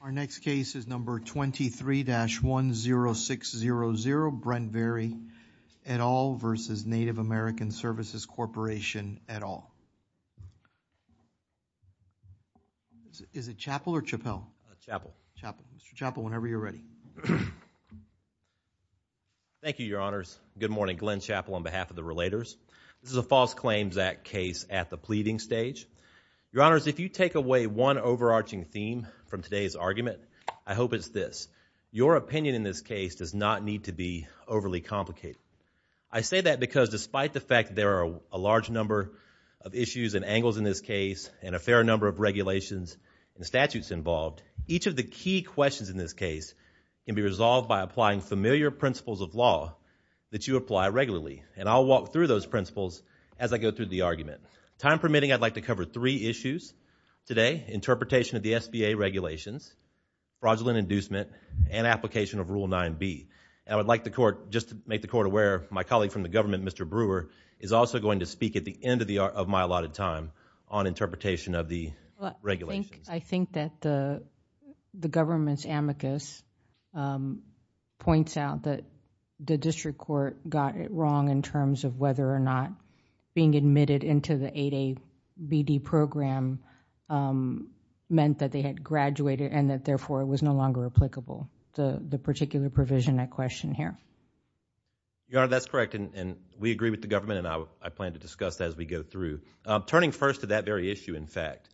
Our next case is number 23-10600 Brent Berry et al. v. Native American Services Corporation at all. Is it Chappell or Chappell? Chappell. Mr. Chappell whenever you're ready. Thank you, your honors. Good morning. Glenn Chappell on behalf of the relators. This is a false claims act case at the pleading stage. Your honors, if you take away one overarching theme from today's argument, I hope it's this. Your opinion in this case does not need to be overly complicated. I say that because despite the fact there are a large number of issues and angles in this case and a fair number of regulations and statutes involved, each of the key questions in this case can be resolved by applying familiar principles of law that you apply regularly. And I'll walk through those principles as I go through the argument. Time permitting, I'd like to cover three issues today. Interpretation of the SBA regulations, fraudulent inducement, and application of Rule 9b. I would like the court, just to make the court aware, my colleague from the district, is also going to speak at the end of my allotted time on interpretation of the regulations. I think that the government's amicus points out that the district court got it wrong in terms of whether or not being admitted into the 8a BD program meant that they had graduated and that therefore it was no longer applicable. The particular provision I question here. Your honor, that's correct and we agree with the government and I plan to discuss that as we go through. Turning first to that very issue, in fact,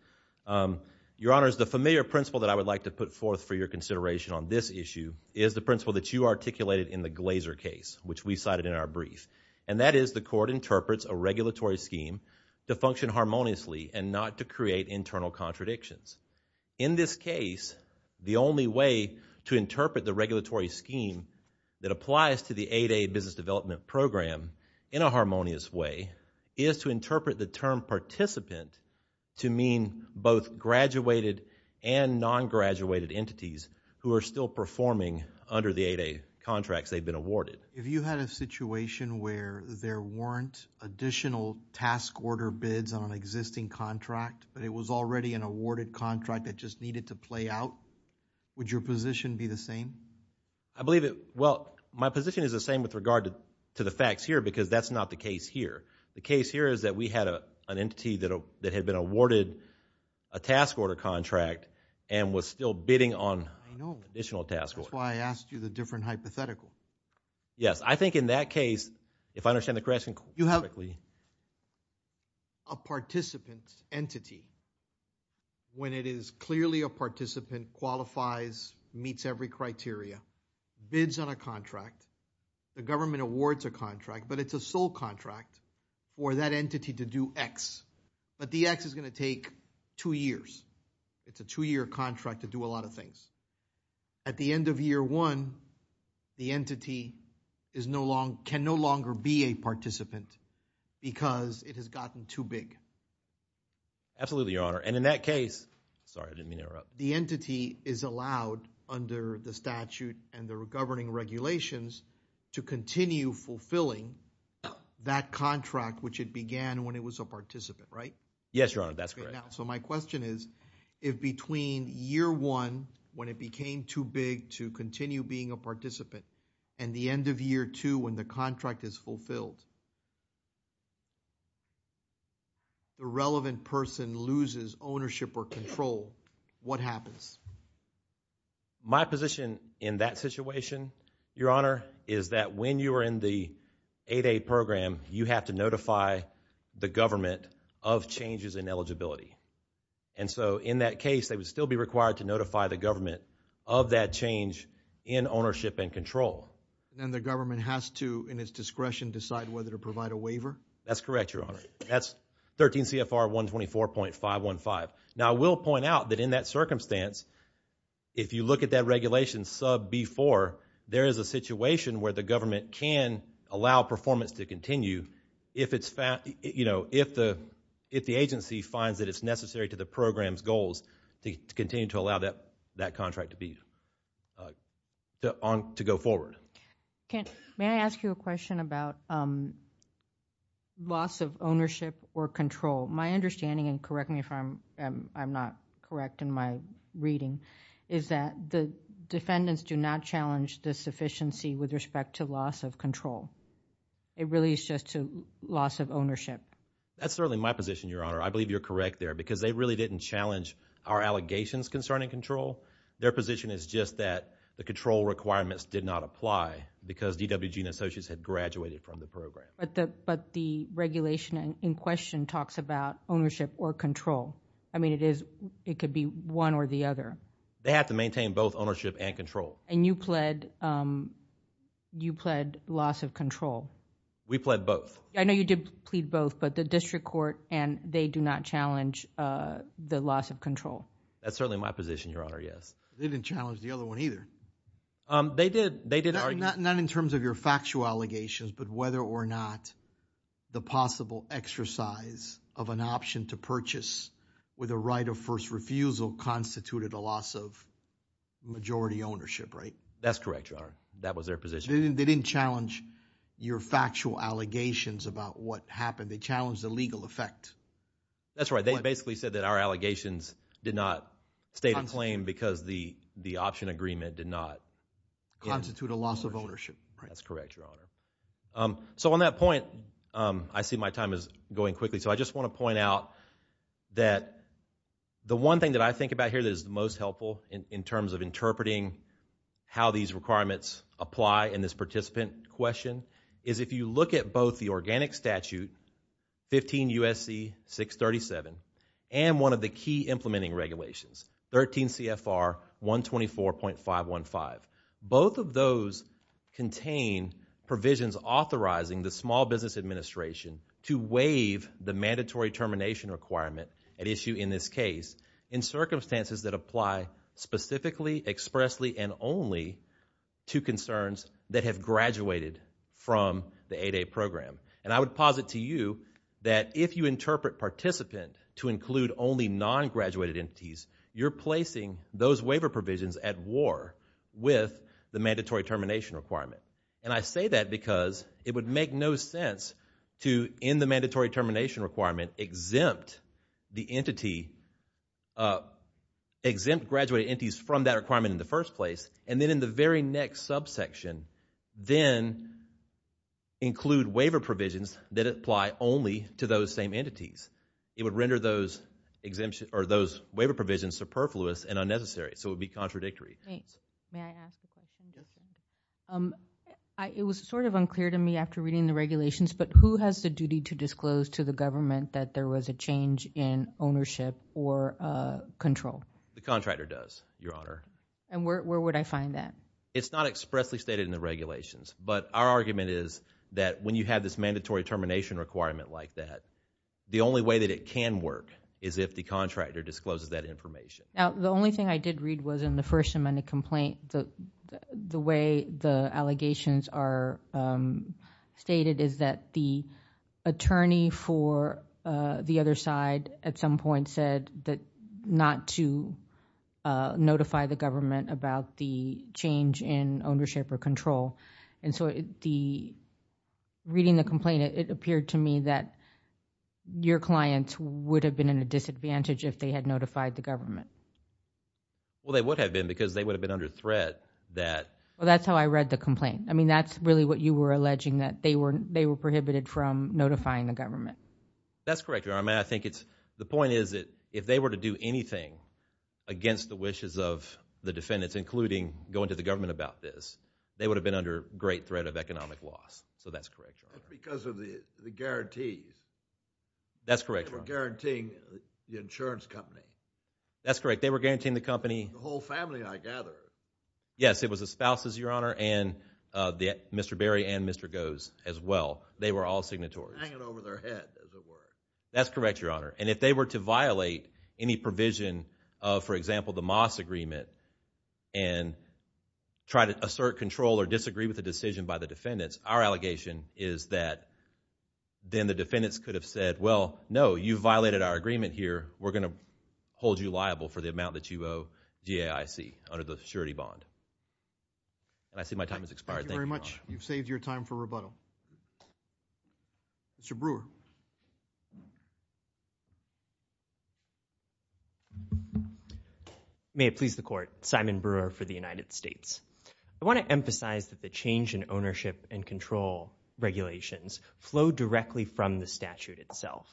your honors, the familiar principle that I would like to put forth for your consideration on this issue is the principle that you articulated in the Glazer case, which we cited in our brief, and that is the court interprets a regulatory scheme to function harmoniously and not to create internal contradictions. In this case, the only way to interpret the regulatory scheme that applies to the 8a business development program in a harmonious way is to interpret the term participant to mean both graduated and non-graduated entities who are still performing under the 8a contracts they've been awarded. If you had a situation where there weren't additional task order bids on an existing contract, but it was already an awarded contract that just needed to play out, would your position be the same? I believe it. Well, my position is the same with regard to the facts here because that's not the case here. The case here is that we had an entity that had been awarded a task order contract and was still bidding on additional task orders. That's why I asked you the different hypothetical. Yes, I think in that case, if I understand the question correctly. You have a participant entity when it is clearly a participant qualifies, meets every criteria, bids on a contract, the government awards a contract, but it's a sole contract for that entity to do X, but the X is going to take two years. It's a two-year contract to do a lot of things. At the end of year one, the entity can no longer be a participant because it has gotten too big. Absolutely, your honor. And in that case, sorry, I didn't mean to interrupt. The entity is allowed under the statute and the governing regulations to continue fulfilling that contract, which it began when it was a participant, right? Yes, your honor, that's correct. So my question is, if between year one, when it became too big to continue being a participant, and the end of year two, when the contract is fulfilled, the relevant person loses ownership or control, what happens? My position in that situation, your honor, is that when you are in the 8A program, you have to notify the government of changes in eligibility. And so in that case, they would still be required to notify the government of that change in ownership and control. And the government has to, in its discretion, decide whether to provide a waiver? That's correct, your honor. That's 13 CFR 124.515. Now, I will point out that in that circumstance, if you look at that regulation sub B4, there is a situation where the government can allow performance to continue if the agency finds that it's necessary to the program's goals to continue to allow that contract to go forward. May I ask you a question about loss of ownership or control? My understanding, and correct me if I'm not correct in my reading, is that the defendants do not challenge the sufficiency with respect to loss of control. It really is just a loss of ownership. That's certainly my position, your honor. I believe you're correct there. Because they really didn't challenge our allegations concerning control. Their position is just that the control requirements did not apply because DWG and associates had graduated from the program. But the regulation in question talks about ownership or control. I mean, it could be one or the other. They have to maintain both ownership and control. And you pled loss of control. We pled both. I know you did plead both, but the district court and they do not challenge the loss of control. That's certainly my position, your honor. Yes. They didn't challenge the other one either. They did. They did not in terms of your factual allegations, but whether or not the possible exercise of an option to purchase with a right of first refusal constituted a loss of majority ownership, right? That's correct, your honor. That was their position. They didn't challenge your factual allegations about what happened. They challenged the legal effect. That's right. They basically said that our allegations did not stay in claim because the option agreement did not. Constitute a loss of ownership. That's correct, your honor. So on that point, I see my time is going quickly. So I just want to point out that the one thing that I think about here that is the most helpful in terms of interpreting how these requirements apply in this participant question is if you look at both the Organic Statute 15 U.S.C. 637 and one of the key implementing regulations, 13 CFR 124.515. Both of those contain provisions authorizing the Small Business Administration to waive the mandatory termination requirement at issue in this case in circumstances that apply specifically, expressly, and only to concerns that have graduated from the 8A program. And I would posit to you that if you interpret participant to include only non-graduated entities, you're placing those waiver provisions at war with the mandatory termination requirement. And I say that because it would make no sense to, in the mandatory termination requirement, exempt the entity, exempt graduated entities from that requirement in the first place, and then in the very next subsection, then include waiver provisions that apply only to those same entities. It would render those waiver provisions superfluous and unnecessary. So it would be contradictory. Thanks. May I ask a question? It was sort of unclear to me after reading the regulations, but who has the duty to disclose to the government that there was a change in ownership or control? The contractor does, Your Honor. And where would I find that? It's not expressly stated in the regulations, but our argument is that when you have this mandatory termination requirement like that, the only way that it can work is if the contractor discloses that information. Now, the only thing I did read was in the First Amendment complaint, the way the allegations are stated is that the attorney for the other side at some point said not to notify the government about the change in ownership or control. And so reading the complaint, it appeared to me that your clients would have been at a disadvantage if they had notified the government. Well, they would have been because they would have been under threat that... Well, that's how I read the complaint. That's really what you were alleging, that they were prohibited from notifying the government. That's correct, Your Honor. I think it's... the point is that if they were to do anything against the wishes of the defendants, including going to the government about this, they would have been under great threat of economic loss. So that's correct. That's because of the guarantees. That's correct, Your Honor. They were guaranteeing the insurance company. That's correct. They were guaranteeing the company. The whole family, I gather. Yes, it was the spouses, Your Honor, and Mr. Berry and Mr. Goes as well. They were all signatories. Hanging over their head, as it were. That's correct, Your Honor. And if they were to violate any provision of, for example, the Moss Agreement and try to assert control or disagree with the decision by the defendants, our allegation is that then the defendants could have said, well, no, you violated our agreement here. We're going to hold you liable for the amount that you owe DAIC under the surety bond. And I see my time has expired. Thank you, Your Honor. Thank you very much. You've saved your time for rebuttal. Mr. Brewer. May it please the Court. Simon Brewer for the United States. I want to emphasize that the change in ownership and control regulations flow directly from the statute itself.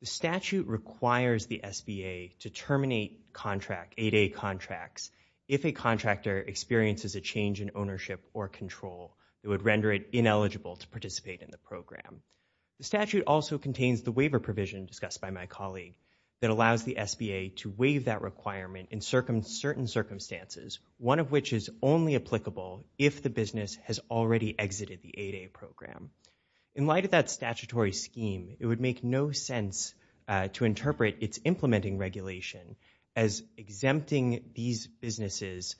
The statute requires the SBA to terminate contract, 8A contracts, if a contractor experiences a change in ownership or control. It would render it ineligible to participate in the program. The statute also contains the waiver provision discussed by my colleague that allows the SBA to waive that requirement in certain circumstances, one of which is only applicable if the business has already exited the 8A program. In light of that statutory scheme, it would make no sense to interpret its implementing regulation as exempting these businesses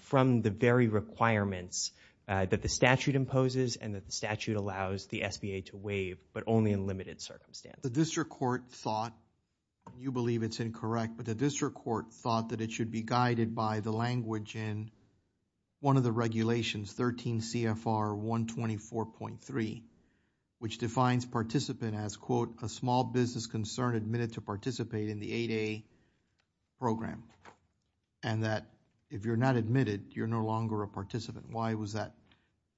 from the very requirements that the statute imposes and that the statute allows the SBA to waive, but only in limited circumstances. The district court thought, you believe it's incorrect, but the district court thought that it should be guided by the language in one of the regulations, 13 CFR 124.3, which defines participant as, quote, a small business concern admitted to participate in the 8A program, and that if you're not admitted, you're no longer a participant. Why was that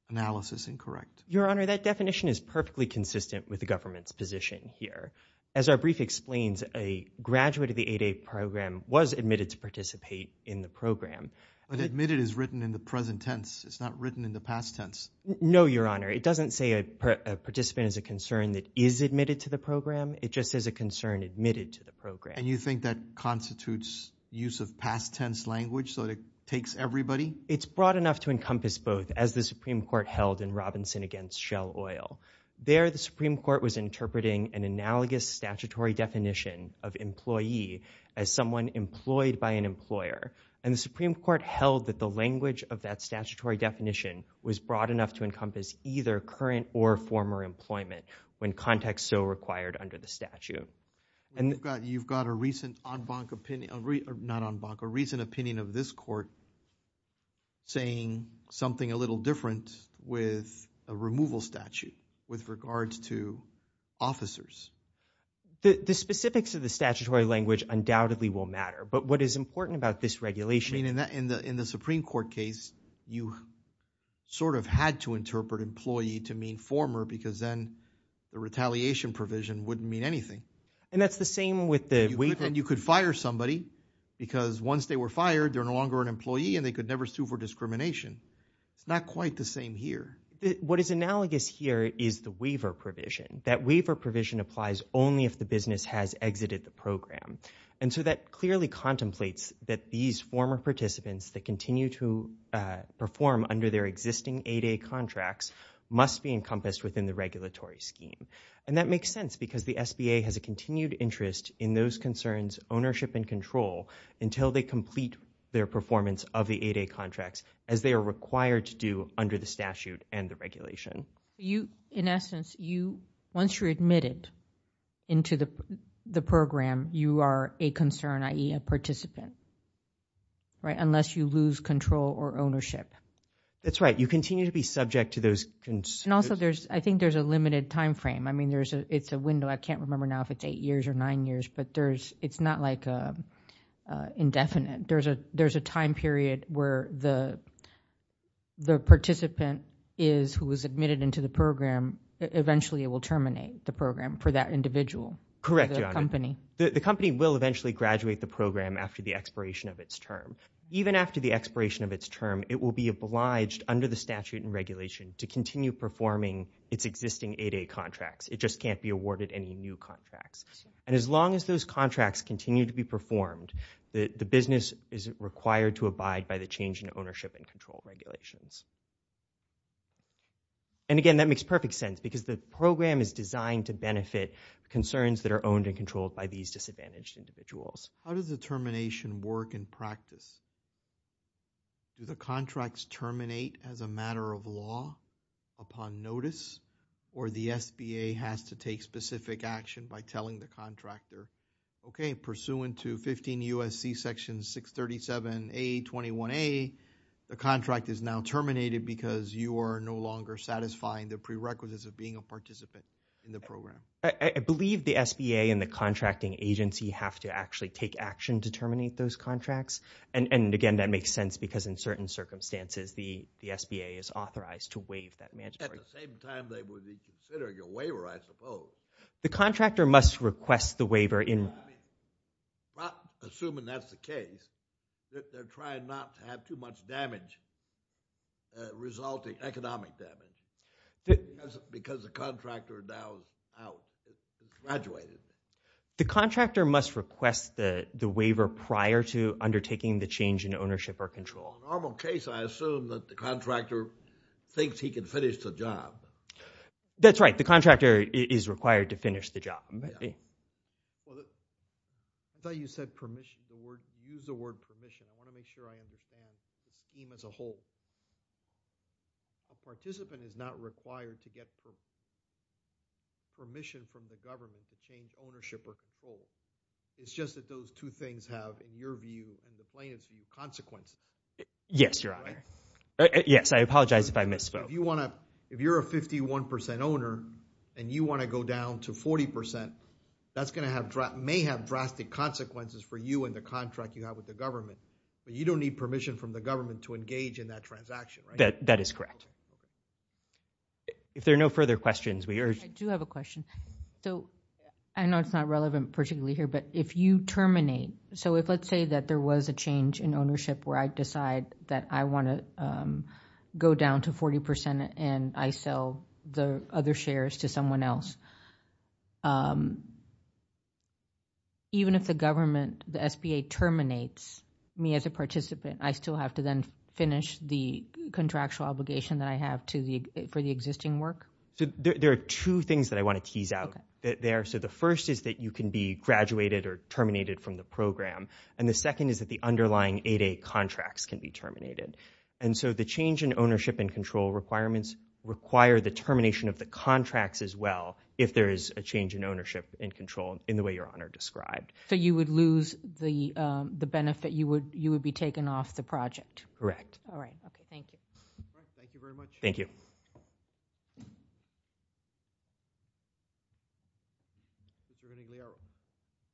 analysis incorrect? Your Honor, that definition is perfectly consistent with the government's position here. As our brief explains, a graduate of the 8A program was admitted to participate in the program. But admitted is written in the present tense. It's not written in the past tense. No, Your Honor. It doesn't say a participant is a concern that is admitted to the program. It just says a concern admitted to the program. And you think that constitutes use of past tense language so that it takes everybody? It's broad enough to encompass both as the Supreme Court held in Robinson against Shell Oil. There, the Supreme Court was interpreting an analogous statutory definition of employee as someone employed by an employer. And the Supreme Court held that the language of that statutory definition was broad enough to encompass either current or former employment when context so required under the statute. You've got a recent opinion of this court saying something a little different with a regards to officers. The specifics of the statutory language undoubtedly will matter. But what is important about this regulation? I mean, in the Supreme Court case, you sort of had to interpret employee to mean former because then the retaliation provision wouldn't mean anything. And that's the same with the waiver? You could fire somebody because once they were fired, they're no longer an employee and they could never sue for discrimination. It's not quite the same here. What is analogous here is the waiver provision. That waiver provision applies only if the business has exited the program. And so that clearly contemplates that these former participants that continue to perform under their existing 8A contracts must be encompassed within the regulatory scheme. And that makes sense because the SBA has a continued interest in those concerns, ownership and control until they complete their performance of the 8A contracts as they are required to under the statute and the regulation. In essence, once you're admitted into the program, you are a concern, i.e. a participant, right? Unless you lose control or ownership. That's right. You continue to be subject to those concerns. And also, I think there's a limited time frame. I mean, it's a window. I can't remember now if it's eight years or nine years, but it's not like indefinite. There's a time period where the participant is who was admitted into the program. Eventually, it will terminate the program for that individual. Correct, Your Honor. The company will eventually graduate the program after the expiration of its term. Even after the expiration of its term, it will be obliged under the statute and regulation to continue performing its existing 8A contracts. It just can't be awarded any new contracts. And as long as those contracts continue to be performed, the business is required to abide by the change in ownership and control regulations. And again, that makes perfect sense because the program is designed to benefit concerns that are owned and controlled by these disadvantaged individuals. How does the termination work in practice? Do the contracts terminate as a matter of law upon notice, or the SBA has to take specific action by telling the contractor, okay, pursuant to 15 U.S.C. Section 637A, 21A, the contract is now terminated because you are no longer satisfying the prerequisites of being a participant in the program? I believe the SBA and the contracting agency have to actually take action to terminate those contracts. And again, that makes sense because in certain circumstances, the SBA is authorized to waive that mandatory term. At the same time, they would be considering a waiver, I suppose. The contractor must request the waiver in... I'm not assuming that's the case. They're trying not to have too much damage resulting, economic damage, because the contractor now is out, graduated. The contractor must request the waiver prior to undertaking the change in ownership or control. Normal case, I assume that the contractor thinks he can finish the job. That's right. The contractor is required to finish the job. I thought you said permission. You used the word permission. I want to make sure I understand the scheme as a whole. A participant is not required to get permission from the government to change ownership or control. It's just that those two things have, in your view, in the plaintiff's view, consequences. Yes, Your Honor. Yes, I apologize if I misspoke. If you're a 51% owner and you want to go down to 40%, that may have drastic consequences for you and the contract you have with the government, but you don't need permission from the government to engage in that transaction, right? That is correct. If there are no further questions, we urge... I do have a question. I know it's not relevant particularly here, but if you terminate, so if let's say that there was a change in ownership where I decide that I want to go down to 40% and I sell the other shares to someone else, even if the government, the SBA terminates me as a participant, I still have to then finish the contractual obligation that I have for the existing work? There are two things that I want to tease out there. The first is that you can be graduated or terminated from the program, and the second is that the underlying 8A contracts can be terminated. The change in ownership and control requirements require the termination of the contracts as well if there is a change in ownership and control in the way Your Honor described. You would lose the benefit? You would be taken off the project? Correct. All right. Okay. Thank you. Thank you very much. Thank you.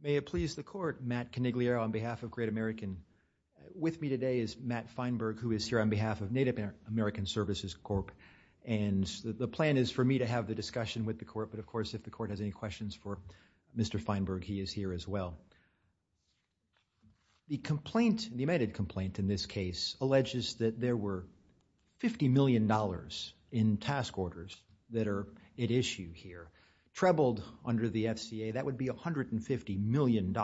May it please the court, Matt Coniglio on behalf of Great American. With me today is Matt Feinberg who is here on behalf of Native American Services Corp. The plan is for me to have the discussion with the court, but of course if the court has any questions for Mr. Feinberg, he is here as well. The complaint, the amended complaint in this case alleges that there were $50 million in task orders that are at issue here. Trebled under the FCA, that would be $150 million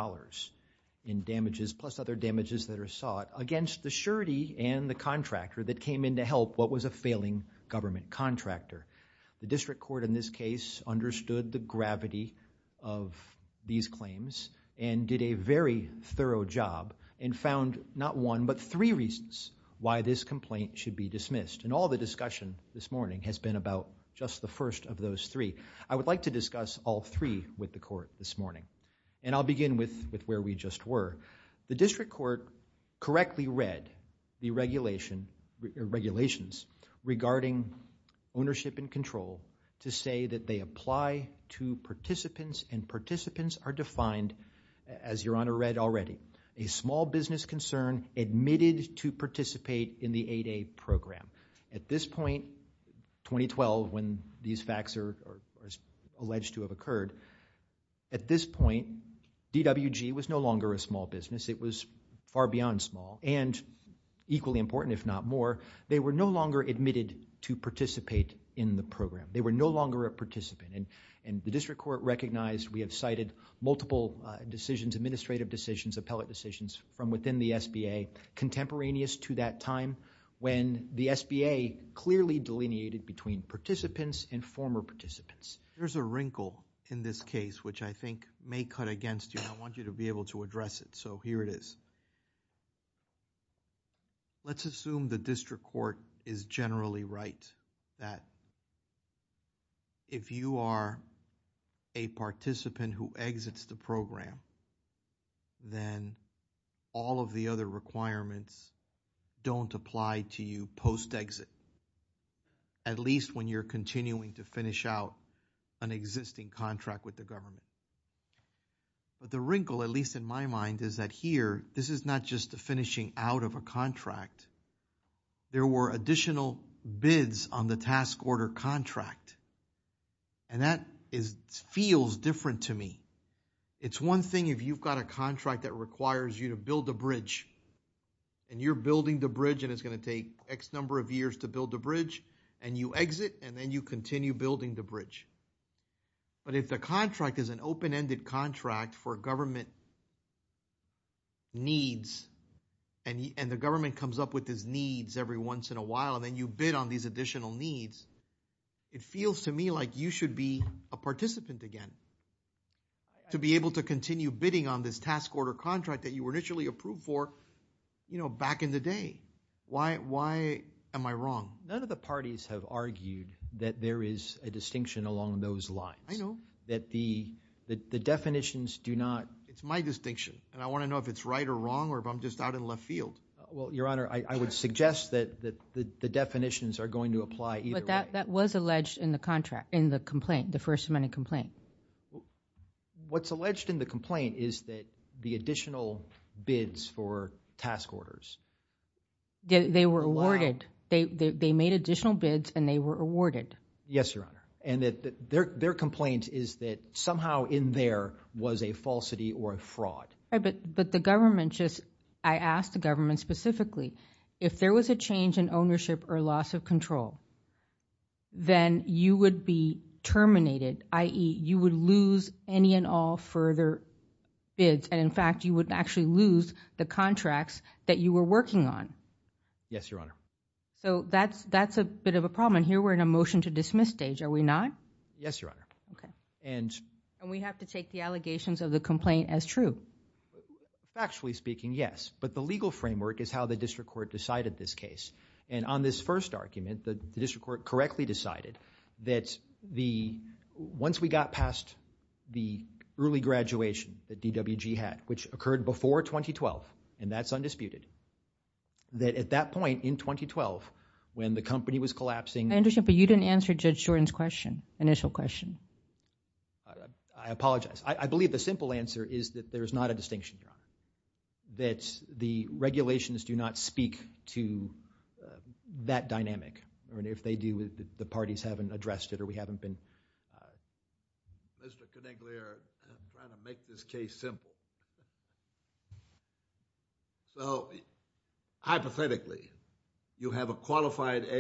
in damages plus other damages that are sought against the surety and the contractor that came in to help what was a failing government contractor. The district court in this case understood the gravity of these claims and did a very thorough job and found not one, but three reasons why this complaint should be dismissed. And all the discussion this morning has been about just the first of those three. I would like to discuss all three with the court this morning. And I'll begin with where we just were. The district court correctly read the regulations regarding ownership and control to say that they apply to participants and participants are defined as Your Honor read already, a small business concern admitted to participate in the 8A program. At this point, 2012 when these facts are alleged to have occurred, at this point DWG was no longer a small business. It was far beyond small and equally important if not more, they were no longer admitted to participate in the program. They were no longer a participant. And the district court recognized, we have cited multiple decisions, administrative decisions, appellate decisions from within the SBA contemporaneous to that time when the SBA clearly delineated between participants and former participants. There's a wrinkle in this case which I think may cut against you. I want you to be able to address it. So here it is. Let's assume the district court is generally right that if you are a participant who exits the program, then all of the other requirements don't apply to you post-exit, at least when you're continuing to finish out an existing contract with the government. But the wrinkle, at least in my mind, is that here, this is not just the finishing out of a contract. There were additional bids on the task order contract. And that feels different to me. It's one thing if you've got a contract that requires you to build a bridge and you're building the bridge and it's going to take X number of years to build the bridge and you exit and then you continue building the bridge. But if the contract is an open-ended contract for government needs and the government comes up with these needs every once in a while and then you bid on these additional needs, it feels to me like you should be a participant again to be able to continue bidding on this task order contract that you were initially approved for, you know, back in the day. Why am I wrong? None of the parties have argued that there is a distinction along those lines. I know. That the definitions do not. It's my distinction and I want to know if it's right or wrong or if I'm just out in left field. Well, Your Honor, I would suggest that the definitions are going to apply either way. That was alleged in the contract, in the complaint, the first amendment complaint. What's alleged in the complaint is that the additional bids for task orders. They were awarded, they made additional bids and they were awarded. Yes, Your Honor. And that their complaint is that somehow in there was a falsity or a fraud. But the government just, I asked the government specifically, if there was a change in ownership or loss of control, then you would be terminated, i.e. you would lose any and all further bids. And in fact, you would actually lose the contracts that you were working on. Yes, Your Honor. So that's a bit of a problem. And here we're in a motion to dismiss stage, are we not? Yes, Your Honor. Okay. And we have to take the allegations of the complaint as true. Factually speaking, yes. But the legal framework is how the district court decided this case. And on this first argument, the district court correctly decided that once we got past the early graduation that DWG had, which occurred before 2012, and that's undisputed, that at that point in 2012, when the company was collapsing. I understand, but you didn't answer Judge Jordan's question, initial question. I apologize. I believe the simple answer is that there is not a distinction, Your Honor. That the regulations do not speak to that dynamic. And if they do, the parties haven't addressed it or we haven't been. I, Mr. Conigliere is trying to make this case simple. So, hypothetically, you have a qualified AA,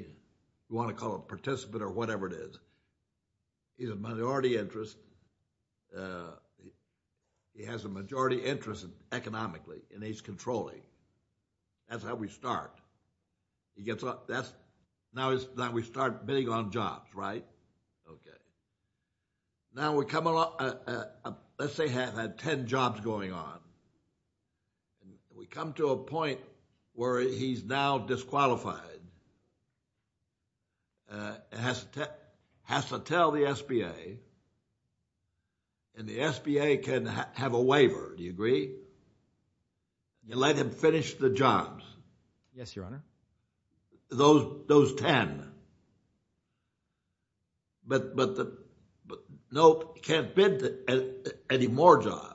you want to call it participant or whatever it is. He's a minority interest. He has a majority interest economically in age controlling. That's how we start. He gets up, that's, now we start bidding on jobs, right? Okay. Now we come along, let's say he had 10 jobs going on. We come to a point where he's now disqualified. It has to tell the SBA, and the SBA can have a waiver, do you agree? You let him finish the jobs. Yes, Your Honor. Those 10. But no, he can't bid any more jobs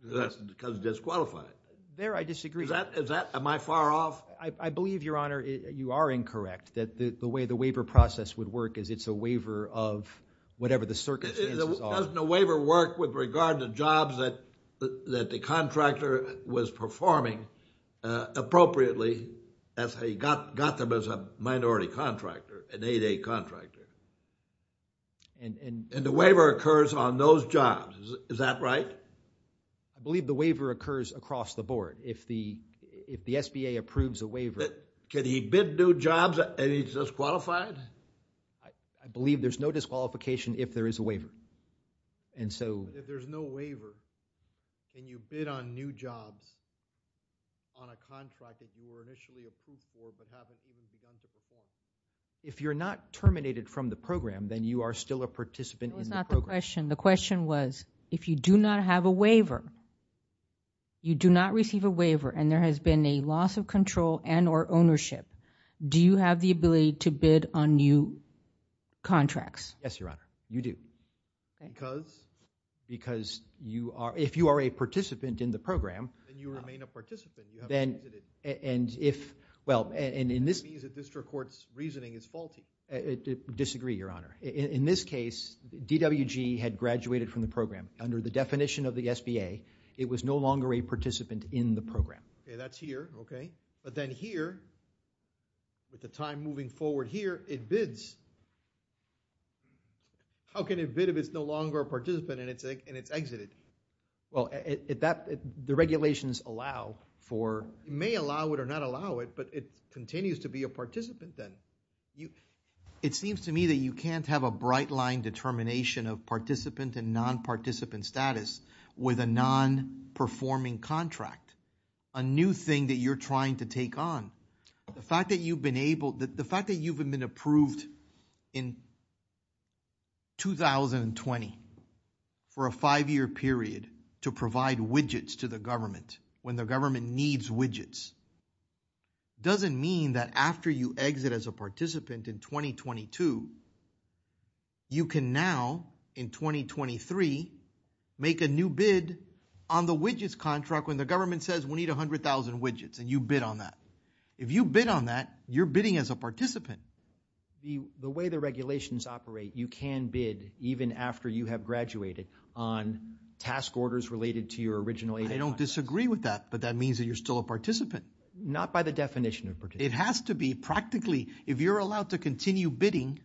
because he's disqualified. There, I disagree. Is that, am I far off? I believe, Your Honor, you are incorrect. That the way the waiver process would work is it's a waiver of whatever the circumstances are. Doesn't a waiver work with regard to jobs that the contractor was performing appropriately as he got them as a minority contractor, an 8A contractor? And the waiver occurs on those jobs, is that right? I believe the waiver occurs across the board. If the SBA approves a waiver. Can he bid new jobs and he's disqualified? If there's no waiver and you bid on new jobs on a contract that you were initially approved for but haven't even begun to perform, if you're not terminated from the program, then you are still a participant in the program. The question was, if you do not have a waiver, you do not receive a waiver, and there has been a loss of control and or ownership, do you have the ability to bid on new contracts? Yes, Your Honor, you do. Because? Because you are, if you are a participant in the program. Then you remain a participant. Then, and if, well, and in this. That means the district court's reasoning is faulty. Disagree, Your Honor. In this case, DWG had graduated from the program. Under the definition of the SBA, it was no longer a participant in the program. Okay, that's here, okay. But then here, with the time moving forward here, it bids. How can it bid if it's no longer a participant and it's, and it's exited? Well, it, that, the regulations allow for. It may allow it or not allow it, but it continues to be a participant then. You, it seems to me that you can't have a bright line determination of participant and non-participant status with a non-performing contract, a new thing that you're trying to take on. The fact that you've been able, the fact that you've been approved in 2020 for a five-year period to provide widgets to the government when the government needs widgets doesn't mean that after you exit as a participant in 2022, you can now, in 2023, make a new bid on the widgets contract when the government says, we need 100,000 widgets and you bid on that. If you bid on that, you're bidding as a participant. The, the way the regulations operate, you can bid even after you have graduated on task orders related to your original 8A contract. I don't disagree with that, but that means that you're still a participant. Not by the definition of participant. It has to be practically, if you're allowed to continue bidding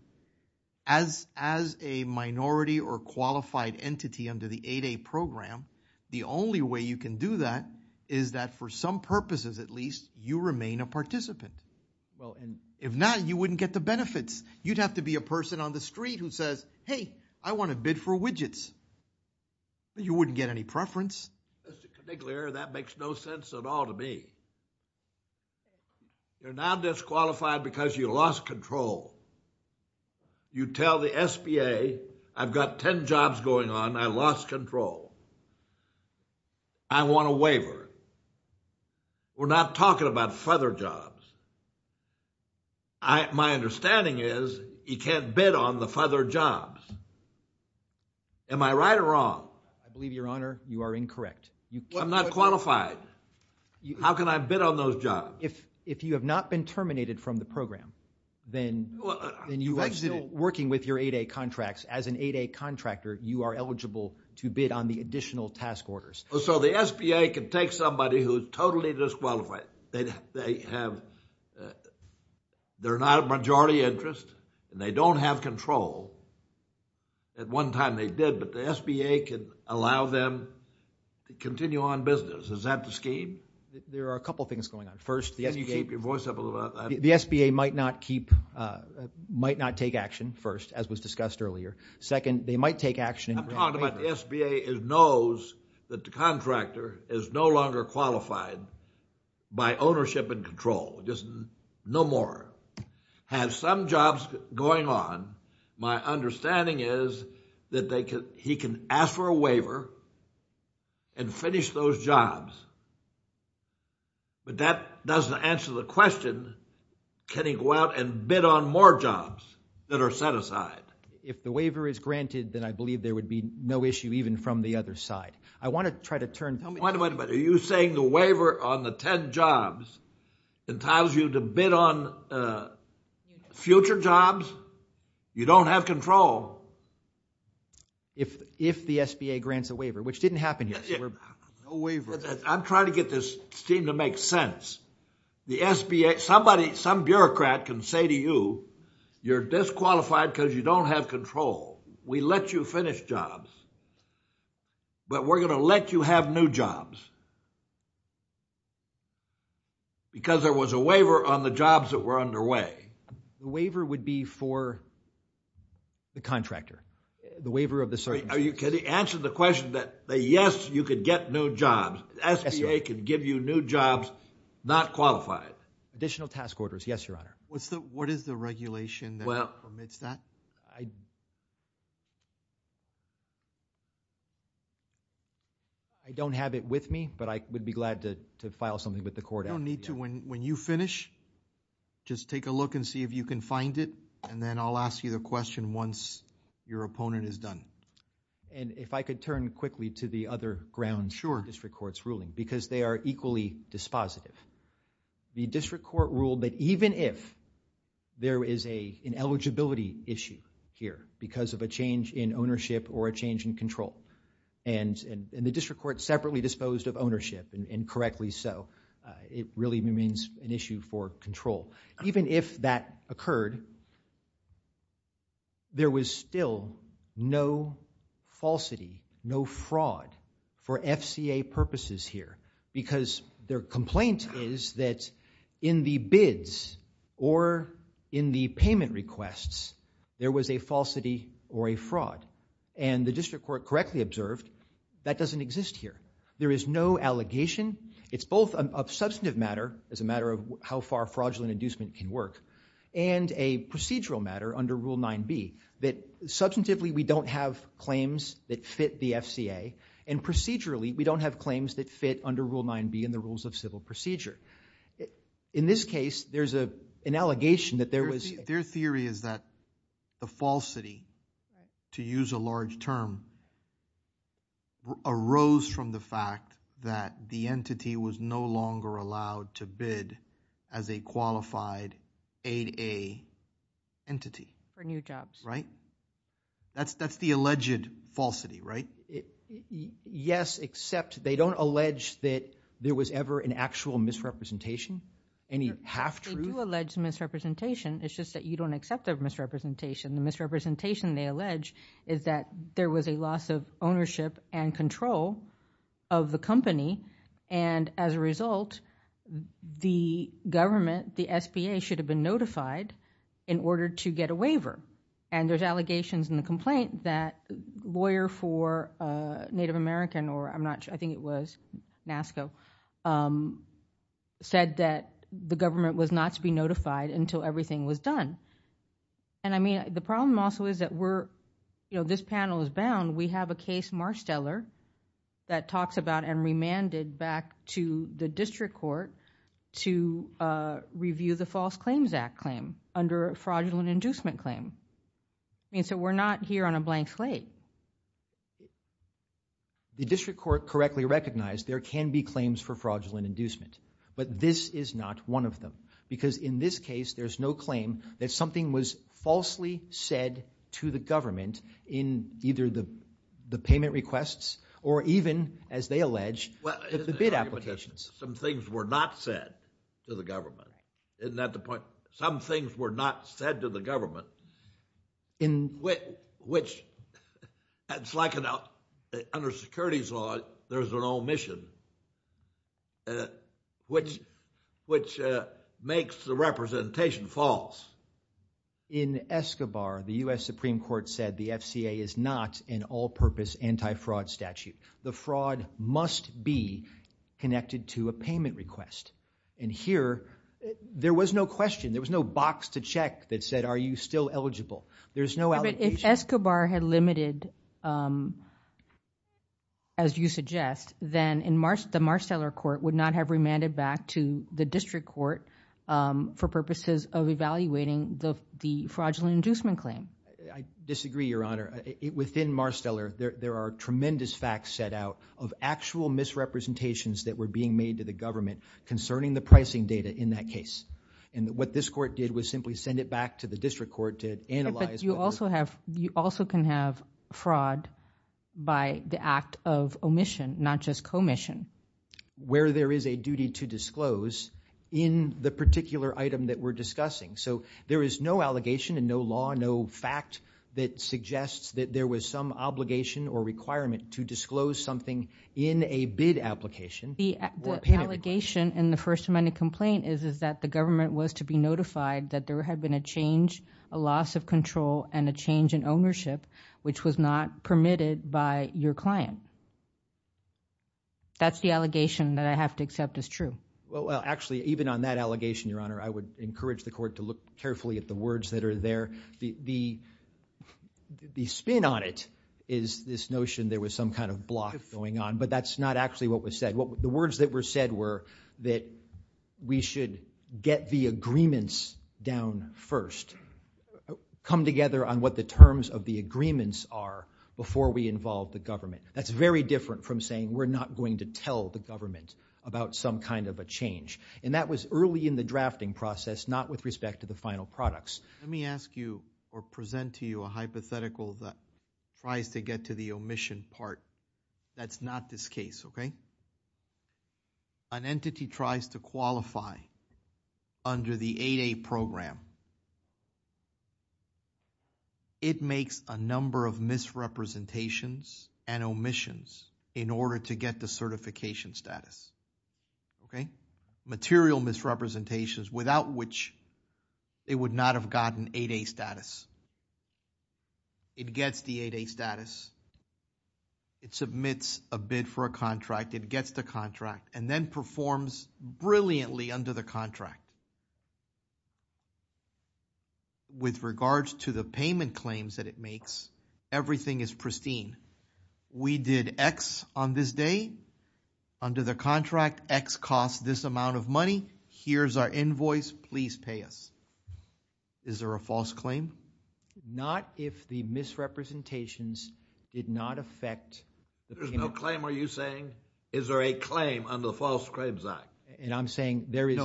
as, as a minority or qualified entity under the 8A program, the only way you can do that is that for some purposes, at least, you remain a participant. Well, and if not, you wouldn't get the benefits. You'd have to be a person on the street who says, hey, I want to bid for widgets. You wouldn't get any preference. Mr. Conigliere, that makes no sense at all to me. You're now disqualified because you lost control. You tell the SBA, I've got 10 jobs going on. I lost control. I want a waiver. We're not talking about feather jobs. I, my understanding is you can't bid on the feather jobs. Am I right or wrong? I believe, your honor, you are incorrect. I'm not qualified. How can I bid on those jobs? If, if you have not been terminated from the program, then, then you are still working with your 8A contracts as an 8A contractor. You are eligible to bid on the additional task orders. So the SBA can take somebody who's totally disqualified. They have, they're not a majority interest and they don't have control. At one time they did, but the SBA could allow them to continue on business. Is that the scheme? There are a couple of things going on. First, the SBA might not keep, might not take action first, as was discussed earlier. Second, they might take action. I'm talking about the SBA knows that the contractor is no longer qualified by ownership and control. Just no more. Have some jobs going on. My understanding is that they can, he can ask for a waiver and finish those jobs. But that doesn't answer the question. Can he go out and bid on more jobs that are set aside? If the waiver is granted, then I believe there would be no issue even from the other side. I want to try to turn. Wait a minute, but are you saying the waiver on the 10 jobs entitles you to bid on future jobs? You don't have control. If the SBA grants a waiver, which didn't happen here. I'm trying to get this scheme to make sense. The SBA, somebody, some bureaucrat can say to you, you're disqualified because you don't have control. We let you finish jobs. But we're going to let you have new jobs. Because there was a waiver on the jobs that were underway. The waiver would be for the contractor, the waiver of the circumstances. Are you kidding? Answer the question that, yes, you could get new jobs. SBA could give you new jobs, not qualified. Additional task orders. Yes, your honor. What's the, what is the regulation that permits that? I don't have it with me, but I would be glad to file something with the court. You don't need to. When you finish, just take a look and see if you can find it. And then I'll ask you the question once your opponent is done. And if I could turn quickly to the other grounds. Sure. District courts ruling, because they are equally dispositive. The district court ruled that even if there is an eligibility issue here, because of a change in ownership or a change in control. And the district court separately disposed of ownership, and correctly so. It really remains an issue for control. Even if that occurred, there was still no falsity, no fraud for FCA purposes here. Because their complaint is that in the bids or in the payment requests, there was a falsity or a fraud. And the district court correctly observed that doesn't exist here. There is no allegation. It's both a substantive matter, as a matter of how far fraudulent inducement can work. And a procedural matter under Rule 9b. That substantively, we don't have claims that fit the FCA. And procedurally, we don't have claims that fit under Rule 9b and the rules of civil procedure. In this case, there's an allegation that there was- Their theory is that the falsity, to use a large term, arose from the fact that the entity was no longer allowed to bid as a qualified 8a entity. For new jobs. Right? That's the alleged falsity, right? Yes, except they don't allege that there was ever an actual misrepresentation? Any half-truth? They do allege misrepresentation. It's just that you don't accept their misrepresentation. The misrepresentation, they allege, is that there was a loss of ownership and control of the company. And as a result, the government, the SBA, should have been notified in order to get a waiver. And there's allegations in the complaint that a lawyer for Native American, or I'm not sure, I think it was NASCO, said that the government was not to be notified until everything was done. And I mean, the problem also is that we're, you know, this panel is bound. We have a case, Marsteller, that talks about and remanded back to the district court to review the False Claims Act claim under a fraudulent inducement claim. I mean, so we're not here on a blank slate. The district court correctly recognized there can be claims for fraudulent inducement. But this is not one of them. Because in this case, there's no claim that something was falsely said to the government in either the payment requests or even, as they allege, the bid applications. Some things were not said to the government. Isn't that the point? Some things were not said to the government, which, it's like under securities law, there's an omission, which makes the representation false. In Escobar, the U.S. Supreme Court said the FCA is not an all-purpose anti-fraud statute. The fraud must be connected to a payment request. And here, there was no question. There was no box to check that said, are you still eligible? There's no allocation. If Escobar had limited, as you suggest, then the Marsteller court would not have remanded back to the district court for purposes of evaluating the fraudulent inducement claim. I disagree, Your Honor. Within Marsteller, there are tremendous facts set out of actual misrepresentations that were being made to the government concerning the pricing data in that case. And what this court did was simply send it back to the district court to analyze. But you also can have fraud by the act of omission, not just commission. Where there is a duty to disclose in the particular item that we're discussing. So there is no allegation and no law, no fact that suggests that there was some obligation or requirement to disclose something in a bid application. The allegation in the First Amendment complaint is that the government was to be notified that there had been a change, a loss of control, and a change in ownership, which was not permitted by your client. That's the allegation that I have to accept as true. Well, actually, even on that allegation, Your Honor, I would encourage the court to look carefully at the words that are there. The spin on it is this notion there was some kind of block going on, but that's not actually what was said. The words that were said were that we should get the agreements down first. Come together on what the terms of the agreements are before we involve the government. That's very different from saying we're not going to tell the government about some kind of a change. That was early in the drafting process, not with respect to the final products. Let me ask you or present to you a hypothetical that tries to get to the omission part. That's not this case. An entity tries to qualify under the 8A program. It makes a number of misrepresentations and omissions in order to get the certification status. Okay, material misrepresentations without which it would not have gotten 8A status. It gets the 8A status. It submits a bid for a contract. It gets the contract and then performs brilliantly under the contract. With regards to the payment claims that it makes, everything is pristine. We did X on this day. Under the contract, X costs this amount of money. Here's our invoice. Please pay us. Is there a false claim? Not if the misrepresentations did not affect. There's no claim, are you saying? Is there a claim under the False Claims Act? And I'm saying there is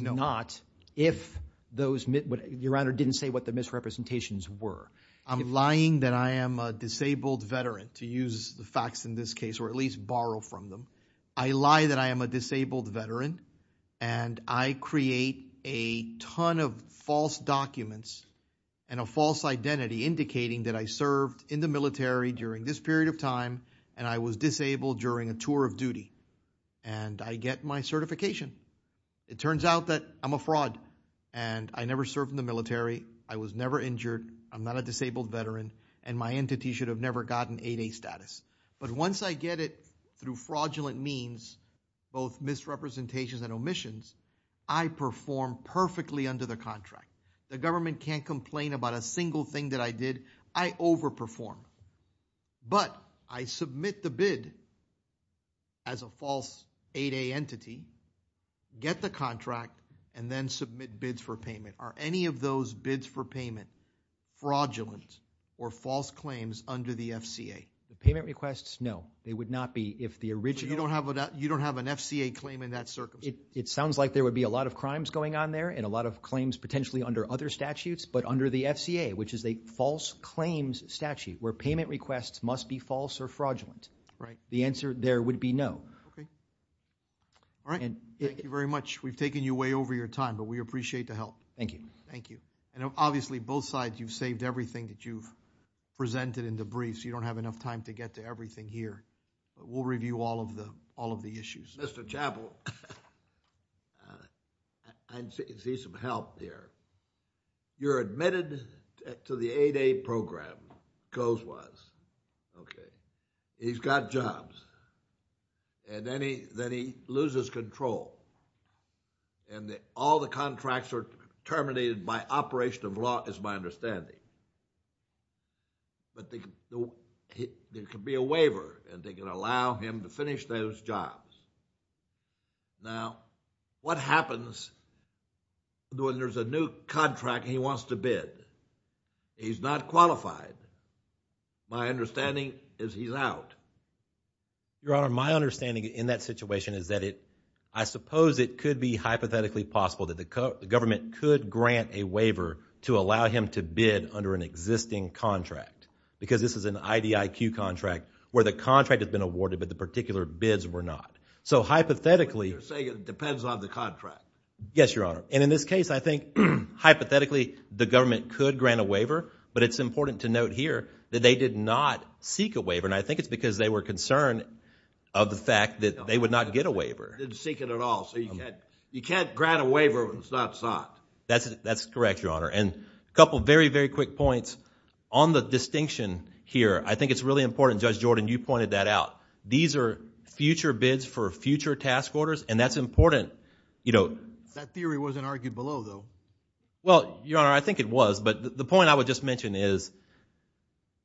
not if those, your honor, didn't say what the misrepresentations were. I'm lying that I am a disabled veteran to use the facts in this case or at least borrow from them. I lie that I am a disabled veteran and I create a ton of false documents and a false identity indicating that I served in the military during this period of time and I was disabled during a tour of duty and I get my certification. It turns out that I'm a fraud and I never served in the military. I was never injured. I'm not a disabled veteran and my entity should have never gotten 8A status. But once I get it through fraudulent means, both misrepresentations and omissions, I perform perfectly under the contract. The government can't complain about a single thing that I did. I overperformed. But I submit the bid as a false 8A entity, get the contract, and then submit bids for payment. Are any of those bids for payment fraudulent or false claims under the FCA? The payment requests, no. They would not be if the original... So you don't have an FCA claim in that circumstance? It sounds like there would be a lot of crimes going on there and a lot of claims potentially under other statutes but under the FCA which is a false claims statute where payment requests must be false or fraudulent. Right. The answer there would be no. Okay. All right. Thank you very much. We've taken you way over your time but we appreciate the help. Thank you. Thank you. And obviously, both sides, you've saved everything that you've presented in the briefs. You don't have enough time to get to everything here. We'll review all of the issues. Mr. Chappell, I can see some help here. You're admitted to the 8A program, goes-was, okay. He's got jobs and then he loses control. And all the contracts are terminated by operation of law is my understanding. But there could be a waiver and they could allow him to finish those jobs. Now, what happens when there's a new contract he wants to bid? He's not qualified. My understanding is he's out. Your Honor, my understanding in that situation is that it-I suppose it could be hypothetically possible that the government could grant a waiver to allow him to bid under an existing contract. Because this is an IDIQ contract where the contract has been awarded but the particular bids were not. So, hypothetically- You're saying it depends on the contract. Yes, Your Honor. And in this case, I think, hypothetically, the government could grant a waiver. But it's important to note here that they did not seek a waiver. And I think it's because they were concerned of the fact that they would not get a waiver. They didn't seek it at all. So, you can't-you can't grant a waiver when it's not sought. That's-that's correct, Your Honor. And a couple very, very quick points on the distinction here. I think it's really important, Judge Jordan, you pointed that out. These are future bids for future task orders. And that's important, you know- That theory wasn't argued below, though. Well, Your Honor, I think it was. But the point I would just mention is-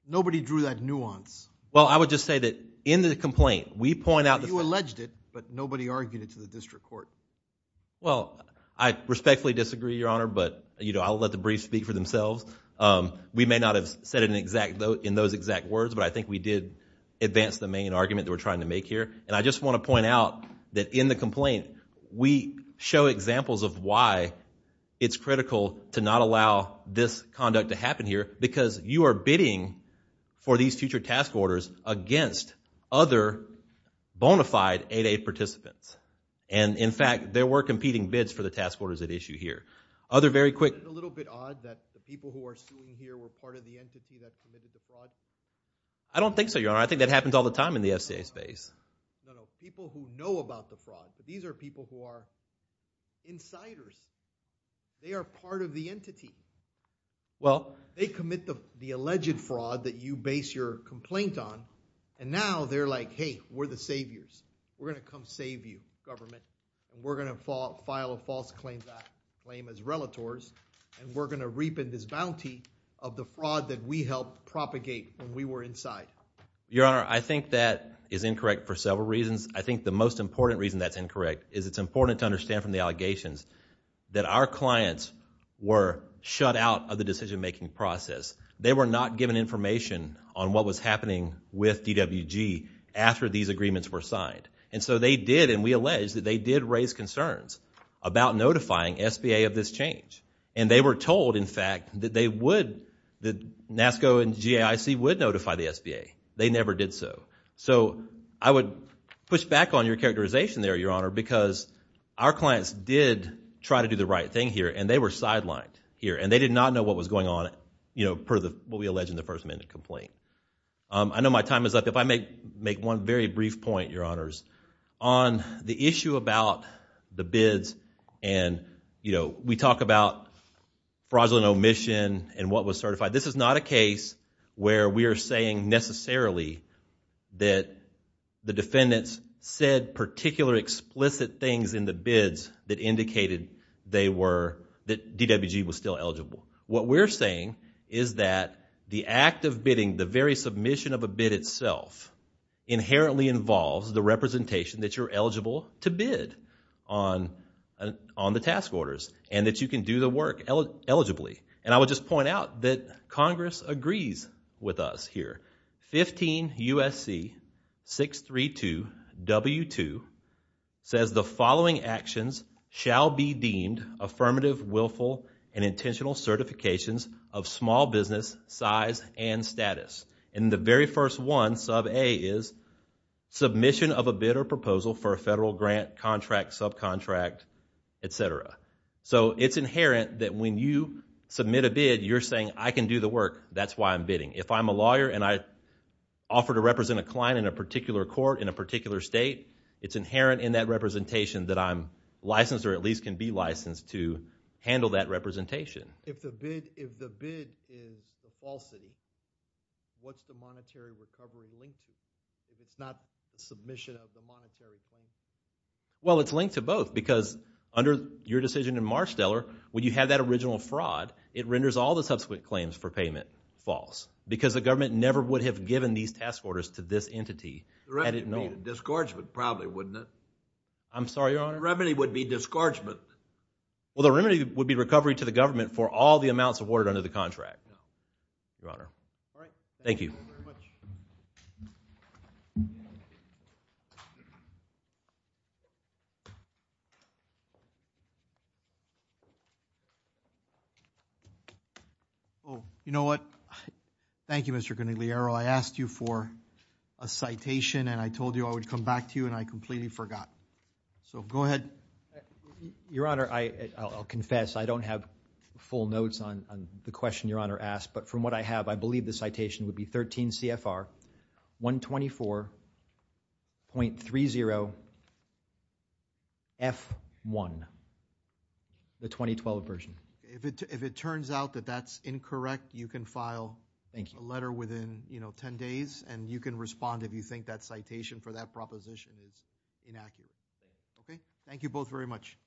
Nobody drew that nuance. Well, I would just say that in the complaint, we point out- You alleged it, but nobody argued it to the district court. Well, I respectfully disagree, Your Honor. But, you know, I'll let the briefs speak for themselves. We may not have said it in exact-in those exact words. But I think we did advance the main argument that we're trying to make here. And I just want to point out that in the complaint, we show examples of why it's critical to not allow this conduct to happen here. Because you are bidding for these future task orders against other bona fide 8-8 participants. And, in fact, there were competing bids for the task orders at issue here. Other very quick- Isn't it a little bit odd that the people who are sitting here were part of the entity that committed the fraud? I don't think so, Your Honor. I think that happens all the time in the FCA space. No, no. People who know about the fraud. These are people who are insiders. They are part of the entity. Well- They commit the alleged fraud that you base your complaint on. And now they're like, hey, we're the saviors. We're going to come save you, government. We're going to file a false claim as relators. And we're going to reap in this bounty of the fraud that we helped propagate when we were inside. Your Honor, I think that is incorrect for several reasons. I think the most important reason that's incorrect is it's important to understand from the allegations that our clients were shut out of the decision-making process. They were not given information on what was happening with DWG after these agreements were signed. And so they did, and we allege that they did raise concerns about notifying SBA of this change. And they were told, in fact, that they would, that NASCO and GAIC would notify the SBA. They never did so. So I would push back on your characterization there, Your Honor, because our clients did try to do the right thing here, and they were sidelined here. And they did not know what was going on, you know, per what we allege in the First Amendment complaint. I know my time is up. If I may make one very brief point, Your Honors, on the issue about the bids and, you know, we talk about fraudulent omission and what was certified. This is not a case where we are saying necessarily that the defendants said particular explicit things in the bids that indicated they were, that DWG was still eligible. What we're saying is that the act of bidding, the very submission of a bid itself, inherently involves the representation that you're eligible to bid on the task orders and that you can do the work eligibly. And I would just point out that Congress agrees with us here. 15 U.S.C. 632 W2 says the following actions shall be deemed affirmative, willful, and intentional certifications of small business size and status. And the very first one, sub A, is submission of a bid or proposal for a federal grant contract, subcontract, et cetera. So it's inherent that when you submit a bid, you're saying I can do the work. That's why I'm bidding. If I'm a lawyer and I offer to represent a client in a particular court in a particular state, it's inherent in that representation that I'm licensed or at least can be licensed to handle that representation. If the bid is a falsity, what's the monetary recovery linked to? If it's not the submission of the monetary claim? Well, it's linked to both because under your decision in Marshteller, when you have that original fraud, it renders all the subsequent claims for payment false. Because the government never would have given these task orders to this entity. The remedy would be a discouragement probably, wouldn't it? I'm sorry, Your Honor? The remedy would be discouragement. Well, the remedy would be recovery to the government for all the amounts awarded under the contract, Your Honor. Thank you. Oh, you know what? Thank you, Mr. Conigliaro. I asked you for a citation and I told you I would come back to you and I completely forgot. So go ahead. Your Honor, I'll confess, I don't have full notes on the question Your Honor asked, but from what I have, I believe the citation would be 13 CFR 124.30F1, the 2012 version. If it turns out that that's incorrect, you can file a letter within 10 days and you can respond if you think that citation for that proposition is inaccurate. Okay. Thank you both very much.